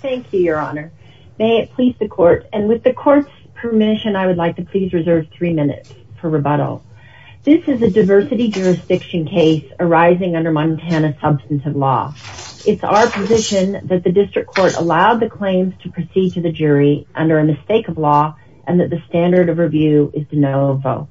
Thank you, Your Honor. May it please the court, and with the court's permission, I would like to please reserve three minutes for rebuttal. This is a diversity jurisdiction case arising under Montana substantive law. It's our position that the district court allowed the claims to proceed to the jury under a mistake of law and that the standard of review is de novo.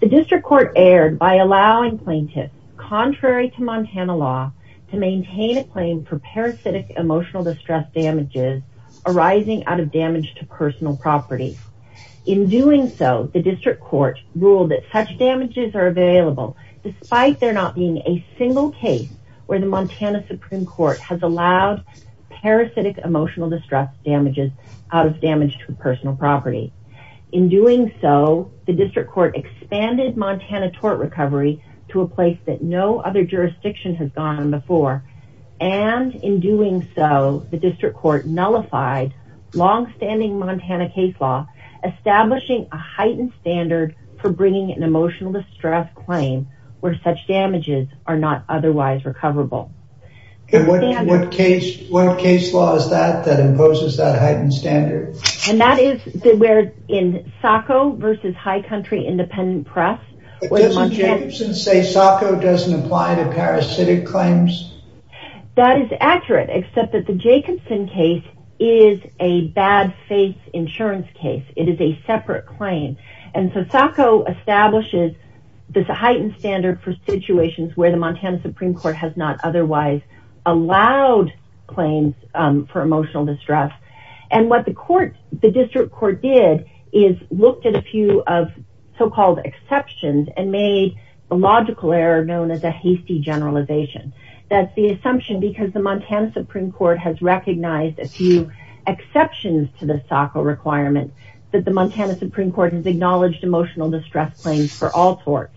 The district court erred by allowing plaintiffs, contrary to Montana law, to maintain a claim for parasitic emotional distress damages arising out of damage to personal property. In doing so, the district court ruled that such damages are available despite there not being a single case where the Montana Supreme Court has allowed parasitic emotional distress damages out of damage to personal property. In doing so, the district court expanded Montana tort recovery to a place that no other jurisdiction has gone before, and in doing so, the district court nullified long-standing Montana case law, establishing a heightened standard for bringing an emotional distress claim where such damages are not otherwise recoverable. What case what case law is that that imposes that heightened standard? And that is where in SACO versus High Country Independent Press. Doesn't Jacobson say SACO doesn't apply to parasitic claims? That is accurate, except that the Jacobson case is a bad faith insurance case. It is a separate claim, and so SACO establishes this heightened standard for situations where the Montana Supreme Court has not otherwise allowed claims for emotional distress. And what the court, the district court, did is looked at a few of so-called exceptions and made a logical error known as a hasty generalization. That's the assumption because the Montana Supreme Court has recognized a few exceptions to the SACO requirement that the Montana Supreme Court has acknowledged emotional distress claims for all torts,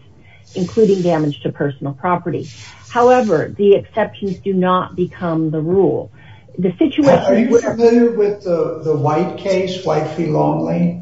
including damage to personal property. However, the exceptions do not become the rule. Are you familiar with the White v. Longley?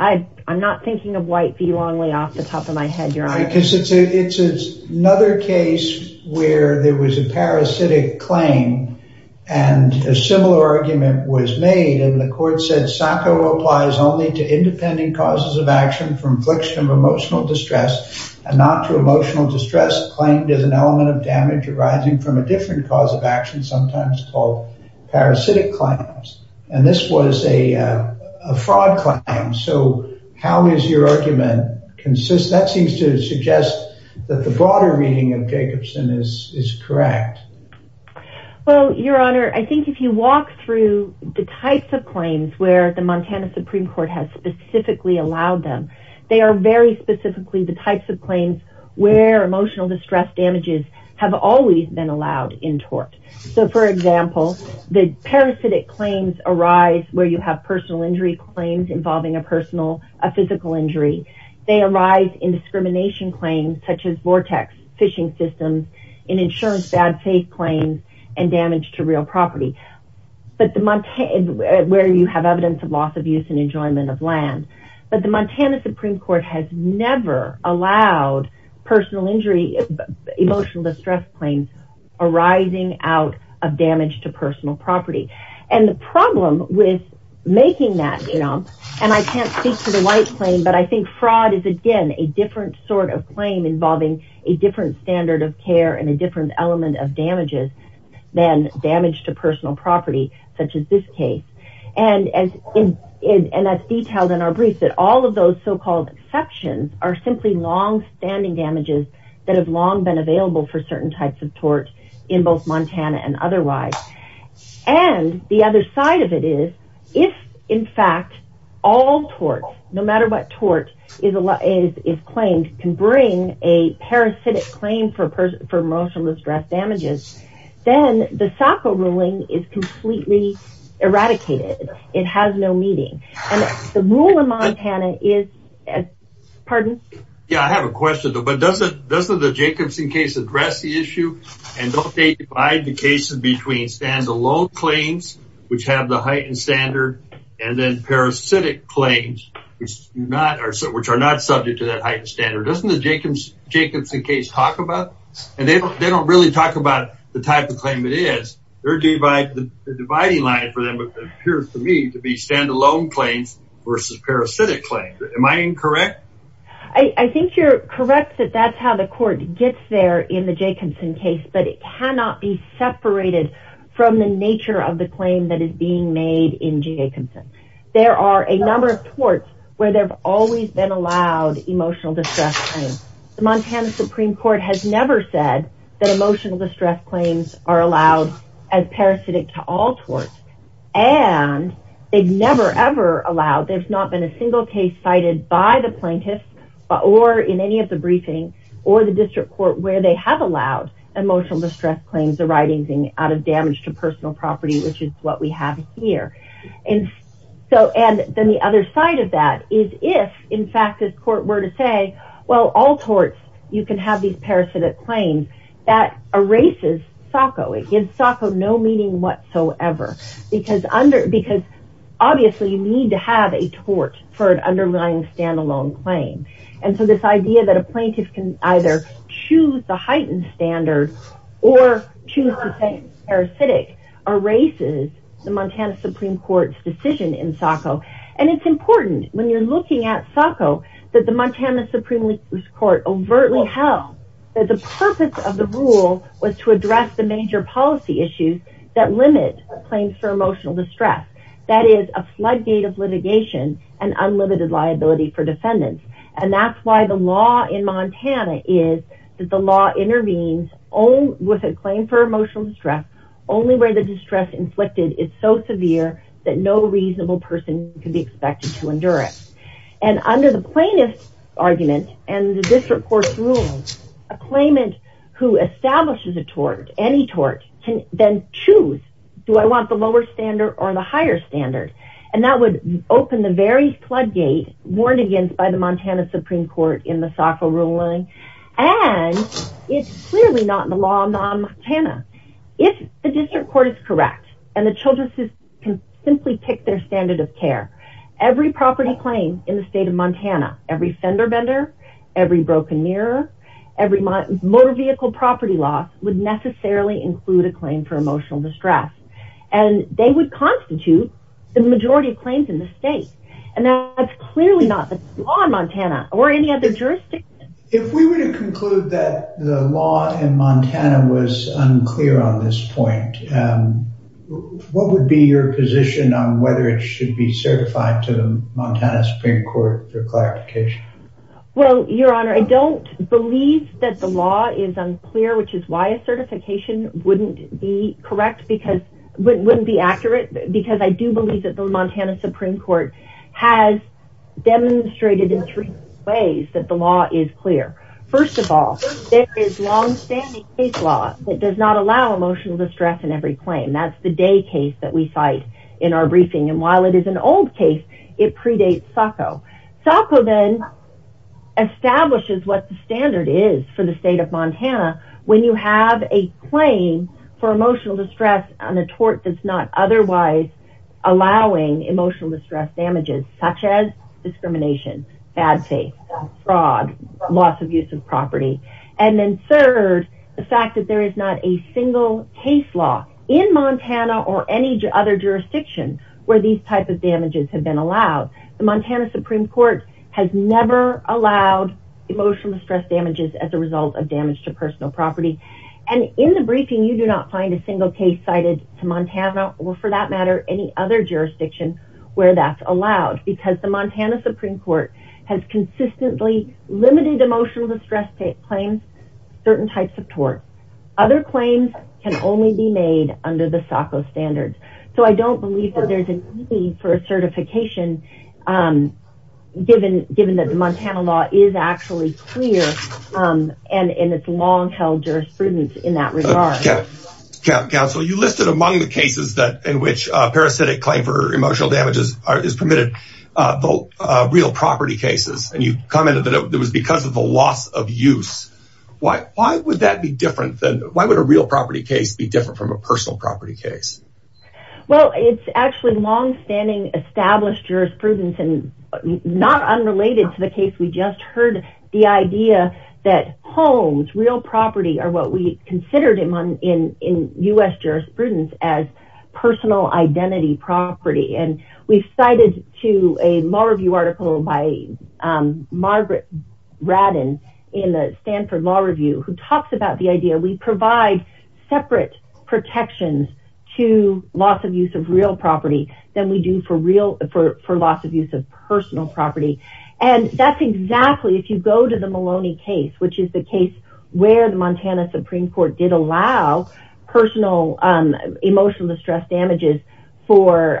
I'm not thinking of White v. Longley off the top of my head. It's another case where there was a parasitic claim and a similar argument was made and the court said SACO applies only to independent causes of action for infliction of emotional distress and not to emotional distress claimed as an element of damage arising from a different cause of action sometimes called parasitic claims. And this was a fraud claim. So how does your argument consist? That seems to suggest that the broader reading of Jacobson is correct. Well, Your Honor, I think if you walk through the types of claims where the Montana Supreme Court has specifically allowed them, they are very specifically the types of claims where emotional distress damages have always been allowed in tort. So, for example, the parasitic claims arise where you have personal injury claims involving a personal, a physical injury. They arise in discrimination claims, such as vortex fishing systems, in insurance, bad faith claims, and damage to real property, where you have evidence of loss of use and enjoyment of land. But the Montana Supreme Court has never allowed personal injury, emotional distress claims arising out of damage to personal property. And the problem with making that, you know, and I can't speak to the white claim, but I think fraud is, again, a different sort of claim involving a different standard of care and a different element of damages than damage to personal property, such as this case. And that's detailed in our briefs, that all of those so-called exceptions are simply long-standing damages that have long been available for certain types of tort in both Montana and otherwise. And the other side of it is, if, in fact, all torts, no matter what tort is claimed, can bring a parasitic claim for emotional distress damages, then the SACA ruling is completely eradicated. It has no meaning. And the rule in Montana is, pardon? Yeah, I have a question, but doesn't the Jacobson case address the issue? And don't they divide the cases between standalone claims, which have the heightened standard, and then parasitic claims, which are not subject to that standard? Doesn't the Jacobson case talk about, and they don't really talk about the type of claim it is, the dividing line for them appears to me to be standalone claims versus parasitic claims. Am I incorrect? I think you're correct that that's how the court gets there in the Jacobson case, but it cannot be separated from the nature of the claim that is being made in Jacobson. There are a number of torts where there have always been allowed emotional distress claims. The Montana Supreme Court has never said that emotional distress claims are allowed as parasitic to all torts, and they've never ever allowed, there's not been a single case cited by the plaintiffs or in any of the briefings or the district court where they have allowed emotional distress claims arising out of damage to personal property, which is what we have here. And so, and then the other side of that is if, in fact, this court were to say, well, all torts, you can have these parasitic claims, that erases SOCO. It gives SOCO no meaning whatsoever, because under, because obviously you need to have a tort for an underlying standalone claim. And so this idea that a plaintiff can either choose the heightened standard or choose parasitic erases the Montana Supreme Court's decision in SOCO. And it's important when you're looking at SOCO that the Montana Supreme Court overtly held that the purpose of the rule was to address the major policy issues that limit claims for emotional distress. That is a floodgate of litigation and unlimited liability for defendants. And that's why the law in Montana is that the law distress inflicted is so severe that no reasonable person can be expected to endure it. And under the plaintiff's argument and the district court's rules, a claimant who establishes a tort, any tort, can then choose, do I want the lower standard or the higher standard? And that would open the very floodgate warned against by the Montana Supreme Court in the SOCO rule line. And it's clearly not in the law in Montana. If the district court is correct, and the children's system can simply pick their standard of care, every property claim in the state of Montana, every fender bender, every broken mirror, every motor vehicle property loss would necessarily include a claim for emotional distress. And they would constitute the majority of claims in the that the law in Montana was unclear on this point. What would be your position on whether it should be certified to the Montana Supreme Court for clarification? Well, Your Honor, I don't believe that the law is unclear, which is why a certification wouldn't be correct because wouldn't be accurate. Because I do believe that the Montana Supreme Court has demonstrated in three ways that the law is clear. First of all, there is long standing case law that does not allow emotional distress in every claim. That's the day case that we cite in our briefing. And while it is an old case, it predates SOCO. SOCO then establishes what the standard is for the state of Montana, when you have a claim for emotional distress on a tort that's not otherwise allowing emotional distress damages, such as discrimination, bad faith, fraud, loss of use of property. And then third, the fact that there is not a single case law in Montana or any other jurisdiction where these types of damages have been allowed. The Montana Supreme Court has never allowed emotional distress damages as a result of damage to personal property. And in the briefing, you do not find a single case cited to Montana or for that matter, any other jurisdiction where that's allowed because the Montana Supreme Court has consistently limited emotional distress claims, certain types of tort. Other claims can only be made under the SOCO standards. So I don't believe that there's a need for a certification given that the Montana law is actually clear and it's long-held jurisprudence in that regard. Council, you listed among the cases in which a parasitic claim for emotional damages is permitted, the real property cases. And you commented that it was because of the loss of use. Why would that be different than, why would a real property case be different from a personal property case? Well, it's actually long-standing established jurisprudence and not unrelated to the case. We just heard the idea that homes, real property are what we considered in U.S. jurisprudence as personal identity property. And we've cited to a law review article by Margaret Radden in the Stanford Law Review, who talks about the idea we provide separate protections to loss of use of real property than we do for loss of use of personal property. And that's exactly, if you go to the Maloney case, which is the case where the Montana Supreme Court did allow personal emotional distress damages for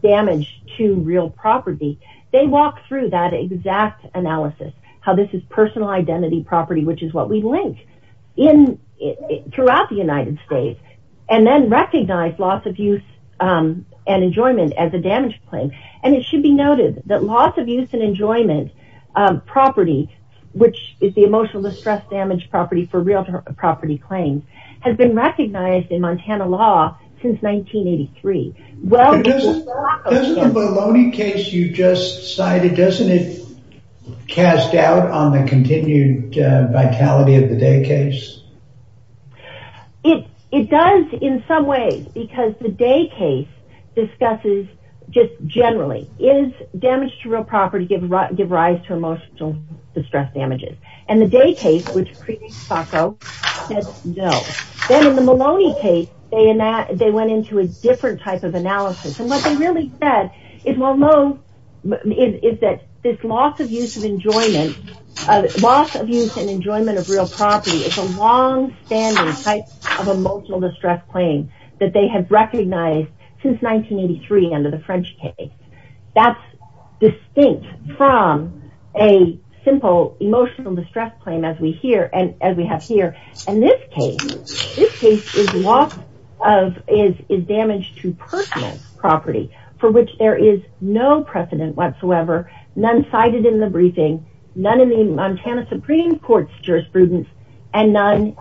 damage to real property, they walk through that exact analysis, how this is personal identity property, which is what we link throughout the United States, and then recognize loss of use and enjoyment as a damage claim. And it should be noted that loss of use and enjoyment property, which is the emotional distress damage property for real property claims, has been recognized in Montana law since 1983. Well, isn't the Maloney case you just cited, doesn't it cast doubt on the continued vitality of the Day case? It does in some ways, because the Day case discusses just generally, is damage to real property give rise to emotional distress damages? And the Day case, which creates FACO, says no. Then in the Maloney case, they went into a different type of analysis. And what they really said is that this loss of use of enjoyment, loss of use and enjoyment of real property is a long standing type of emotional distress claim that they have recognized since 1983 under the French case. That's distinct from a simple emotional distress claim as we have here. In this case, this case is damage to personal property for which there is no precedent whatsoever, none cited in the briefing, none in the Montana Supreme Court's jurisprudence, and none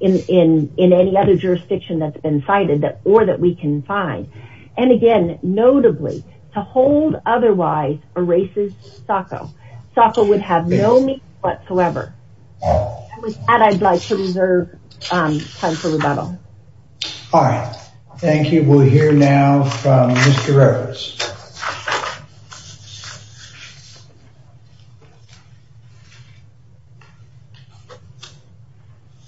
in any other jurisdiction that's been cited or that we can find. And again, notably, to hold otherwise erases FACO. FACO would have no meaning whatsoever. With that, I'd like to reserve time for rebuttal. All right. Thank you. We'll hear now from Mr. Rhodes.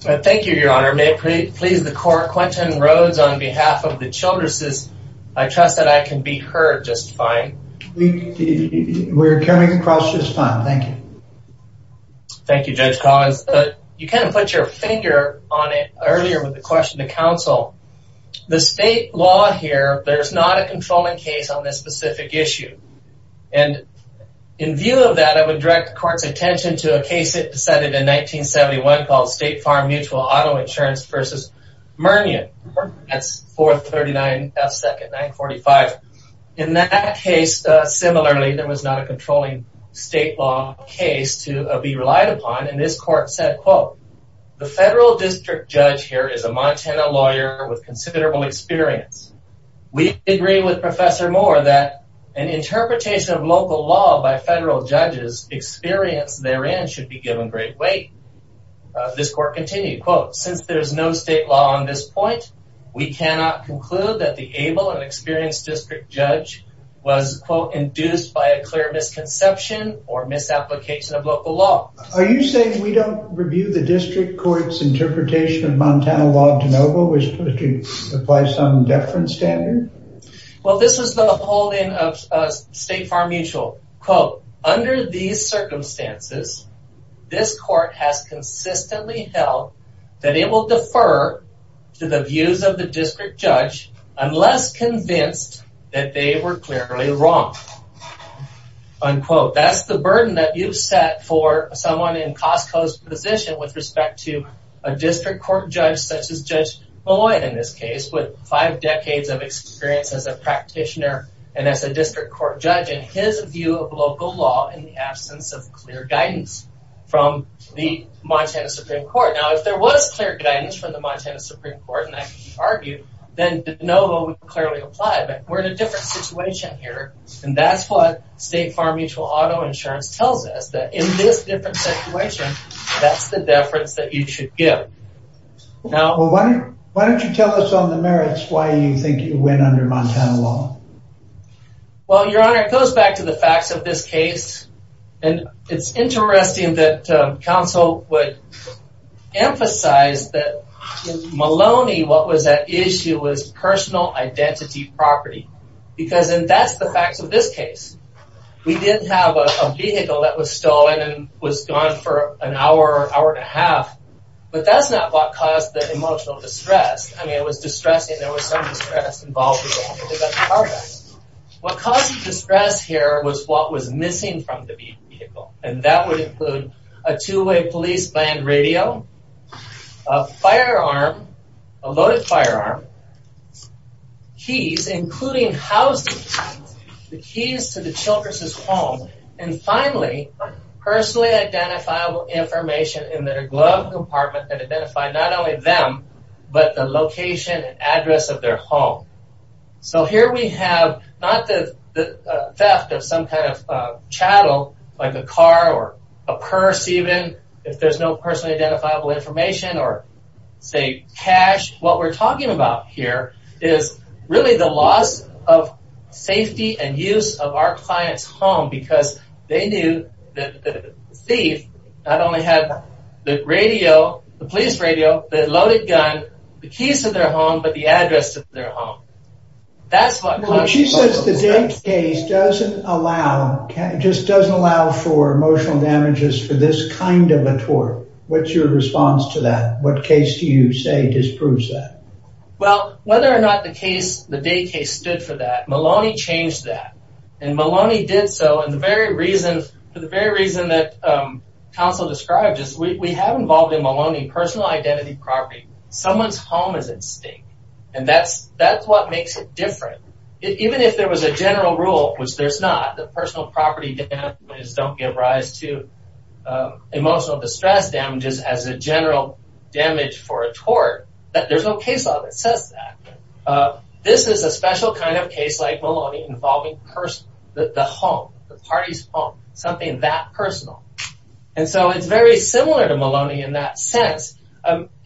Thank you, Your Honor. May it please the court, Quentin Rhodes on behalf of the Childress' I trust that I can be heard just fine. We're coming across just fine. Thank you. Thank you, Judge Collins. You kind of put your finger on it earlier with the question to counsel. The state law here, there's not a controlling case on this specific issue. And in view of that, I would direct the court's attention to a case that decided in 1971 called State Farm Mutual Auto Insurance v. Murnion. That's 439 F. 2nd 945. In that case, similarly, there was not a controlling state law case to be relied upon. And this court said, quote, The federal district judge here is a Montana lawyer with considerable experience. We agree with Professor Moore that an interpretation of local law by federal judges experience therein should be given great weight. This court continued, quote, Since there is no state law on this point, we cannot conclude that the able and experienced district judge was, quote, induced by a clear misconception or misapplication of local law. Are you saying we don't review the district court's interpretation of Montana law de novo, which applies some deference standard? Well, this is the holding of State Farm Mutual, quote, Under these circumstances, this court has consistently held that it will defer to the views of the district judge unless convinced that they were clearly wrong. Unquote. That's the burden that you've set for someone in Costco's position with respect to a district court judge such as Judge Malloy in this case, with five decades of experience as a practitioner and as a district court judge and his view of local law in the absence of clear guidance from the Montana Supreme Court. Now, if there was clear guidance from the Montana Supreme Court, and I can argue, then de novo would clearly apply, but we're in a different situation here. And that's what State Farm Mutual Auto Insurance tells us, that in this different situation, that's the deference that you should give. Now, why don't you tell us on the merits why you think you win under Montana law? Well, Your Honor, it goes back to the facts of this case, and it's interesting that counsel would emphasize that in Maloney, what was at issue was personal identity property, because that's the facts of this case. We did have a vehicle that was stolen and was gone for an hour, hour and a half, but that's not what caused the emotional distress. I mean, it was distressing. There was some distress involved. What caused the distress here was what was missing from the vehicle, and that would include a two-way police band radio, a firearm, a loaded firearm, keys, including housing, the keys to the Childress' home, and finally, personally identifiable information in their glove compartment that identified not address of their home. So here we have not the theft of some kind of chattel, like a car or a purse even, if there's no personally identifiable information, or say cash. What we're talking about here is really the loss of safety and use of our client's home, because they knew that the thief not only had the radio, the police radio, the loaded gun, the keys to their home, but the address to their home. That's what she says the case doesn't allow, just doesn't allow for emotional damages for this kind of a tort. What's your response to that? What case do you say disproves that? Well, whether or not the case, the day case stood for that, Maloney changed that, and Maloney did so, and the very reason that counsel described is we have involved in Maloney personal identity property. Someone's home is at stake, and that's what makes it different. Even if there was a general rule, which there's not, that personal property damages don't give rise to emotional distress damages as a general damage for a tort, there's no case law that says that. This is a special kind of case like Maloney involving the home, the party's home, something that personal, and so it's very similar to Maloney in that sense.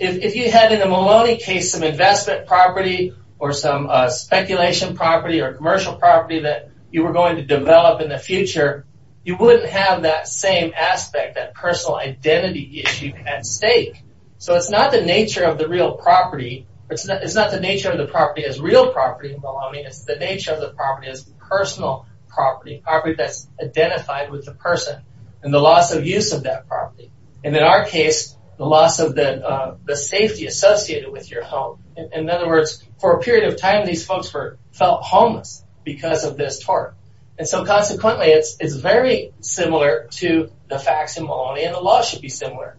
If you had in a Maloney case some investment property, or some speculation property, or commercial property that you were going to develop in the future, you wouldn't have that same aspect, that personal identity issue at stake. So it's not the nature of the real property, it's not the nature of the property as real property in Maloney, it's the nature of the property as personal property, property that's identified with the person, and the loss of use of that property, and in our case, the loss of the safety associated with your home. In other words, for a period of time, these folks felt homeless because of this tort, and so consequently, it's very similar to the facts in Maloney, and the law should be similar.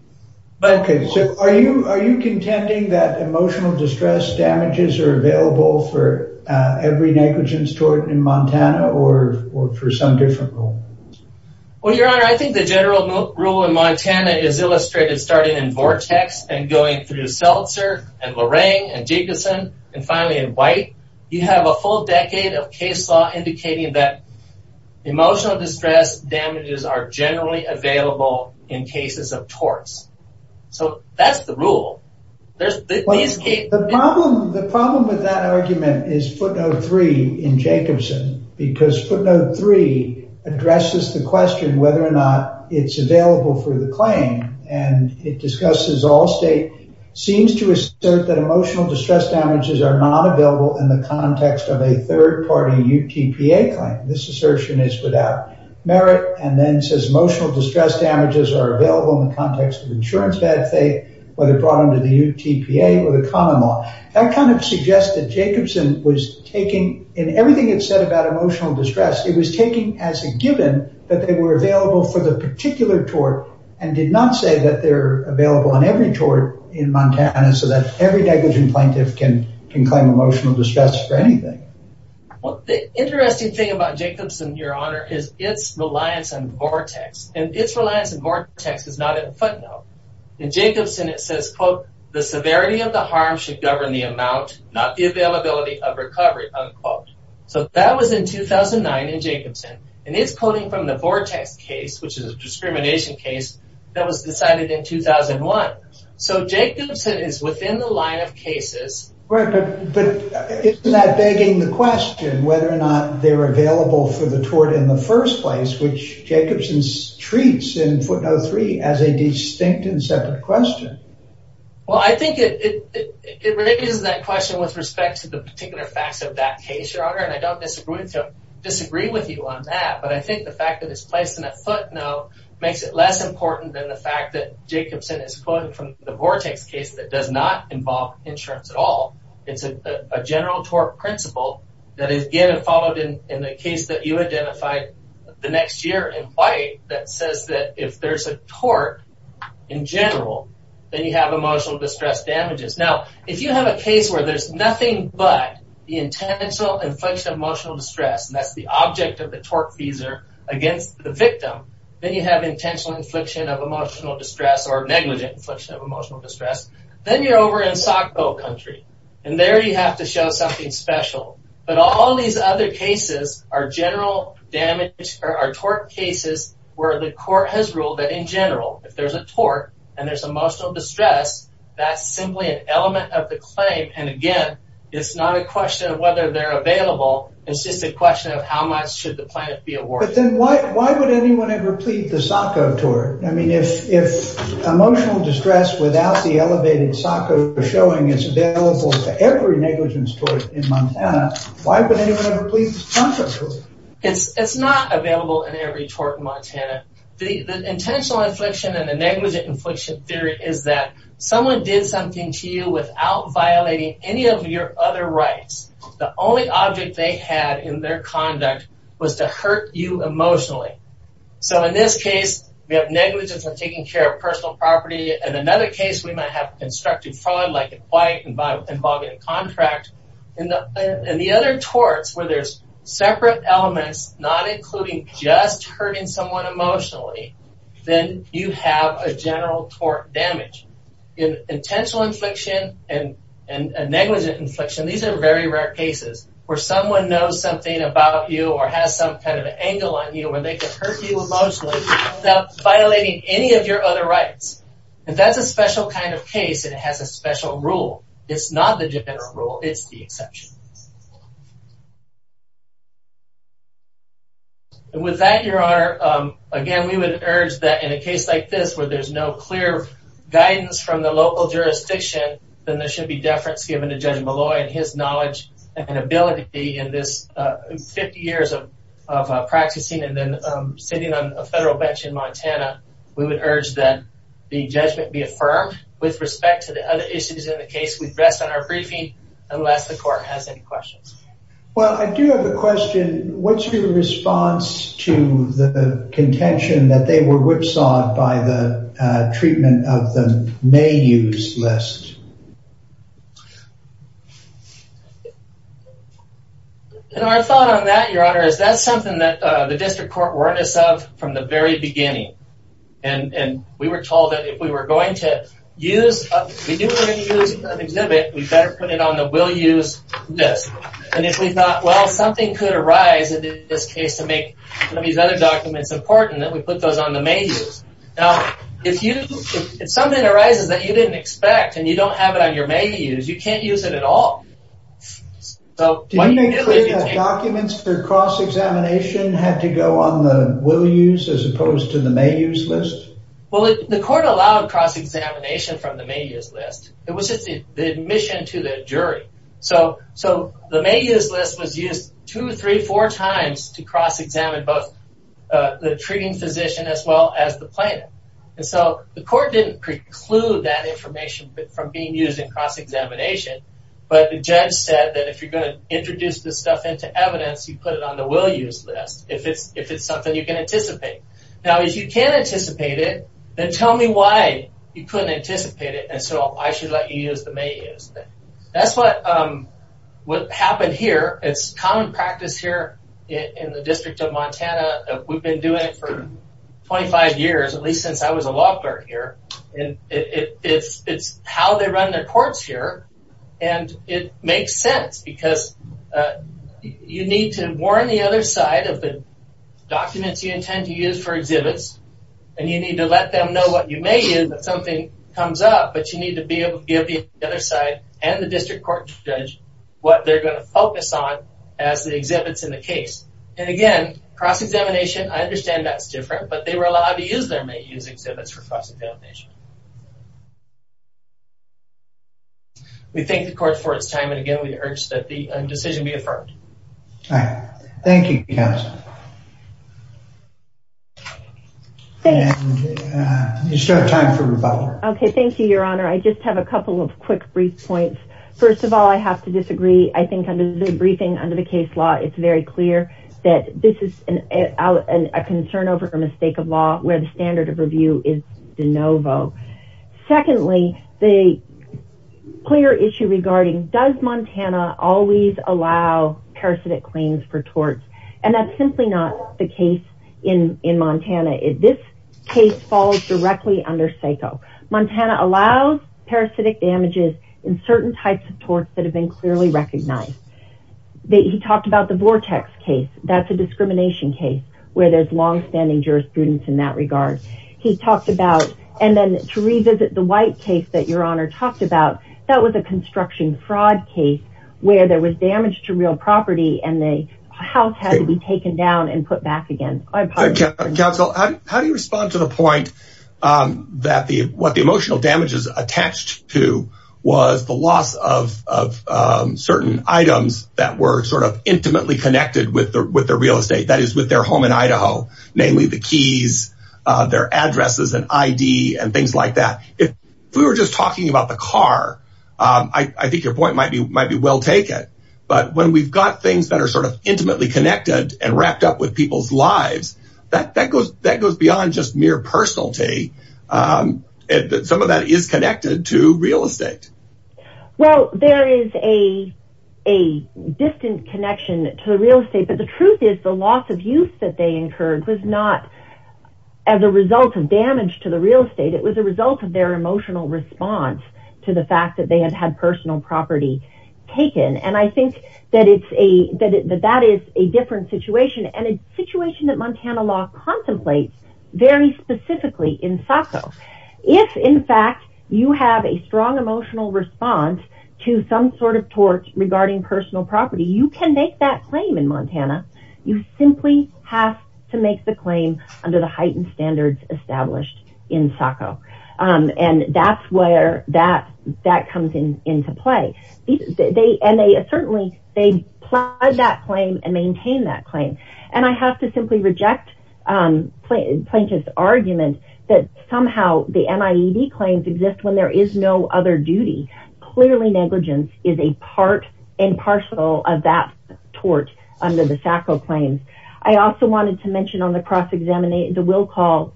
Okay, so are you contending that emotional distress damages are available for every negligence tort in Montana, or for some different rule? Well, your honor, I think the general rule in Montana is illustrated starting in Vortex, and going through Seltzer, and Lorraine, and Jacobson, and finally in White. You have a full decade of case law indicating that cases of torts. So that's the rule. The problem with that argument is footnote three in Jacobson, because footnote three addresses the question whether or not it's available for the claim, and it discusses all state, seems to assert that emotional distress damages are not available in the context of a third-party UTPA claim. This assertion is without merit, and then says emotional distress damages are available in the context of insurance bad faith, whether brought under the UTPA or the common law. That kind of suggests that Jacobson was taking, in everything it said about emotional distress, it was taking as a given that they were available for the particular tort, and did not say that they're available on every tort in Montana, so that every negligent plaintiff can claim emotional distress for anything. Well, the interesting thing about Jacobson, your honor, is its reliance on Vortex, and its reliance on Vortex is not in footnote. In Jacobson, it says, quote, the severity of the harm should govern the amount, not the availability of recovery, unquote. So that was in 2009 in Jacobson, and it's quoting from the Vortex case, which is a discrimination case that was decided in 2001. So Jacobson is within the line of cases. But isn't that begging the question, whether or not they're available for the tort in the first place, which Jacobson treats in footnote three as a distinct and separate question? Well, I think it raises that question with respect to the particular facts of that case, your honor, and I don't disagree with you on that, but I think the fact that it's placed in a footnote makes it less important than the fact that Jacobson is quoting from the Vortex case that does not involve insurance at all. It's a general tort principle that is followed in the case that you identified the next year in white that says that if there's a tort in general, then you have emotional distress damages. Now, if you have a case where there's nothing but the intentional infliction of emotional distress, and that's the object of the tort fees are against the victim, then you have intentional infliction of emotional distress or negligent infliction of emotional distress. Then you're over in SACO country, and there you have to show something special. But all these other cases are general damage or tort cases where the court has ruled that in general, if there's a tort and there's emotional distress, that's simply an element of the claim. And again, it's not a question of whether they're available. It's just a question of how much should the planet be a war. But then why would anyone ever plead the SACO tort? I mean, if emotional distress without the elevated SACO showing is available to every negligence tort in Montana, why would anyone ever plead the SACO tort? It's not available in every tort in Montana. The intentional infliction and the negligent infliction theory is that someone did something to you without violating any of your other rights. The only object they had in their conduct was to hurt you emotionally. So in this case, we have negligence of taking care of personal property. In another case, we might have constructive fraud like in white and by involving a contract. In the other torts where there's separate elements, not including just hurting someone emotionally, then you have a general tort damage. In intentional infliction and negligent infliction, these are very rare cases where someone knows something about you or has some kind of angle on you where they could hurt you emotionally without violating any of your other rights. And that's a special kind of case and it has a special rule. It's not the general rule. It's the exception. And with that, Your Honor, again, we would urge that in a case like this where there's no clear guidance from the local jurisdiction, then there should be deference given to Judge Malloy and his knowledge and ability in this 50 years of practicing and then the judgment be affirmed. With respect to the other issues in the case, we rest on our briefing unless the court has any questions. Well, I do have a question. What's your response to the contention that they were whipsawed by the treatment of the may use list? And our thought on that, Your Honor, is that's something that the district court warned us of from the very beginning. And we were told that if we were going to use an exhibit, we better put it on the will use list. And if we thought, well, something could arise in this case to make some of these other documents important, that we put those on the may use. Now, if something arises that you didn't expect and you don't have it on your may use, you can't use it at all. Did you make clear that documents for cross-examination had to go on the will use as opposed to the may use list? Well, the court allowed cross-examination from the may use list. It was just the admission to the jury. So the may use list was used two, three, four times to cross-examine both the treating physician as well as the plaintiff. And so the court didn't preclude that information from being used in cross-examination. But the judge said that if you're going to introduce this stuff into evidence, you put it on the will use list if it's something you can anticipate. Now, if you can't anticipate it, then tell me why you couldn't anticipate it. And so I should let you use the may use. That's what happened here. It's common practice here in the District of Montana. We've been doing it for 25 years, at least since I was a law clerk here. And it's how they run their courts here. And it makes sense because you need to warn the other side of the documents you intend to use for exhibits. And you need to let them know what you may use if something comes up. But you need to be able to give the other side and the district court judge what they're going to focus on as the exhibits in the case. And again, cross-examination, I understand that's different, but they were allowed to use their may use exhibits for cross-examination. We thank the court for its time. And again, we urge that the decision be affirmed. Thank you. Okay, thank you, Your Honor. I just have a couple of quick brief points. First of all, I have to disagree. I think under the briefing under the case law, it's very clear that this is a concern over a mistake of law where the standard of review is de novo. Secondly, the clear issue regarding does Montana always allow parasitic claims for torts? And that's simply not the case in Montana. This case falls directly under SACO. Montana allows parasitic damages in certain types of torts that have been clearly recognized. He talked about the Vortex case. That's a discrimination case where there's long-standing jurisprudence in that regard. He talked about, and then to revisit the White case that Your Honor talked about, that was a construction fraud case where there was damage to real property and the house had to be taken down and put back again. Counsel, how do you respond to the point that what the emotional damages attached to was the of certain items that were sort of intimately connected with the real estate, that is with their home in Idaho, namely the keys, their addresses and ID and things like that. If we were just talking about the car, I think your point might be well taken. But when we've got things that are sort of intimately connected and wrapped up with people's lives, that goes beyond just mere personality. Some of that is connected to Well, there is a distant connection to the real estate, but the truth is the loss of use that they incurred was not as a result of damage to the real estate. It was a result of their emotional response to the fact that they had had personal property taken. And I think that that is a different situation and a situation that Montana law contemplates very specifically in SACO. If, in fact, you have a strong emotional response to some sort of tort regarding personal property, you can make that claim in Montana. You simply have to make the claim under the heightened standards established in SACO. And that's where that that comes into play. And they certainly they plied that claim and maintain that claim. And I have to simply reject Plaintiff's argument that somehow the NIED claims exist when there is no other duty. Clearly, negligence is a part and parcel of that tort under the SACO claims. I also wanted to mention on the cross-examination, the will call,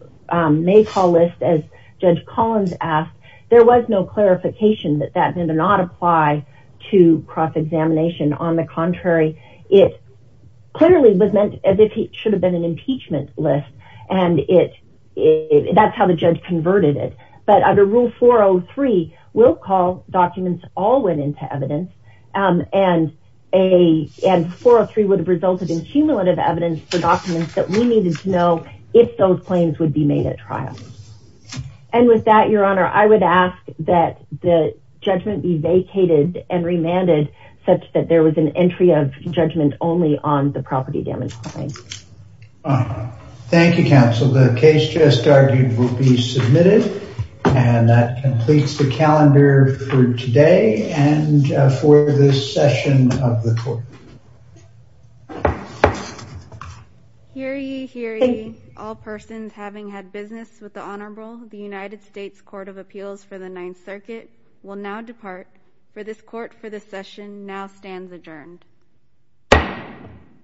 may call list, as Judge Collins asked, there was no clarification that that did not apply to cross-examination. On the contrary, it clearly was meant as if it should have been an impeachment list. And that's how the judge converted it. But under Rule 403, will call documents all went into evidence. And 403 would have resulted in cumulative evidence for documents that we needed to know if those claims would be made at trial. And with that, Your Honor, I would ask that the judgment be vacated and remanded such that there was an entry of judgment only on the property damage claim. Thank you, counsel. The case just argued will be submitted. And that completes the calendar for today and for this session of the court. Hear ye, hear ye, all persons having had business with the Honorable the United States Court of Appeals for the Ninth Circuit will now depart for this court for the session now stands adjourned.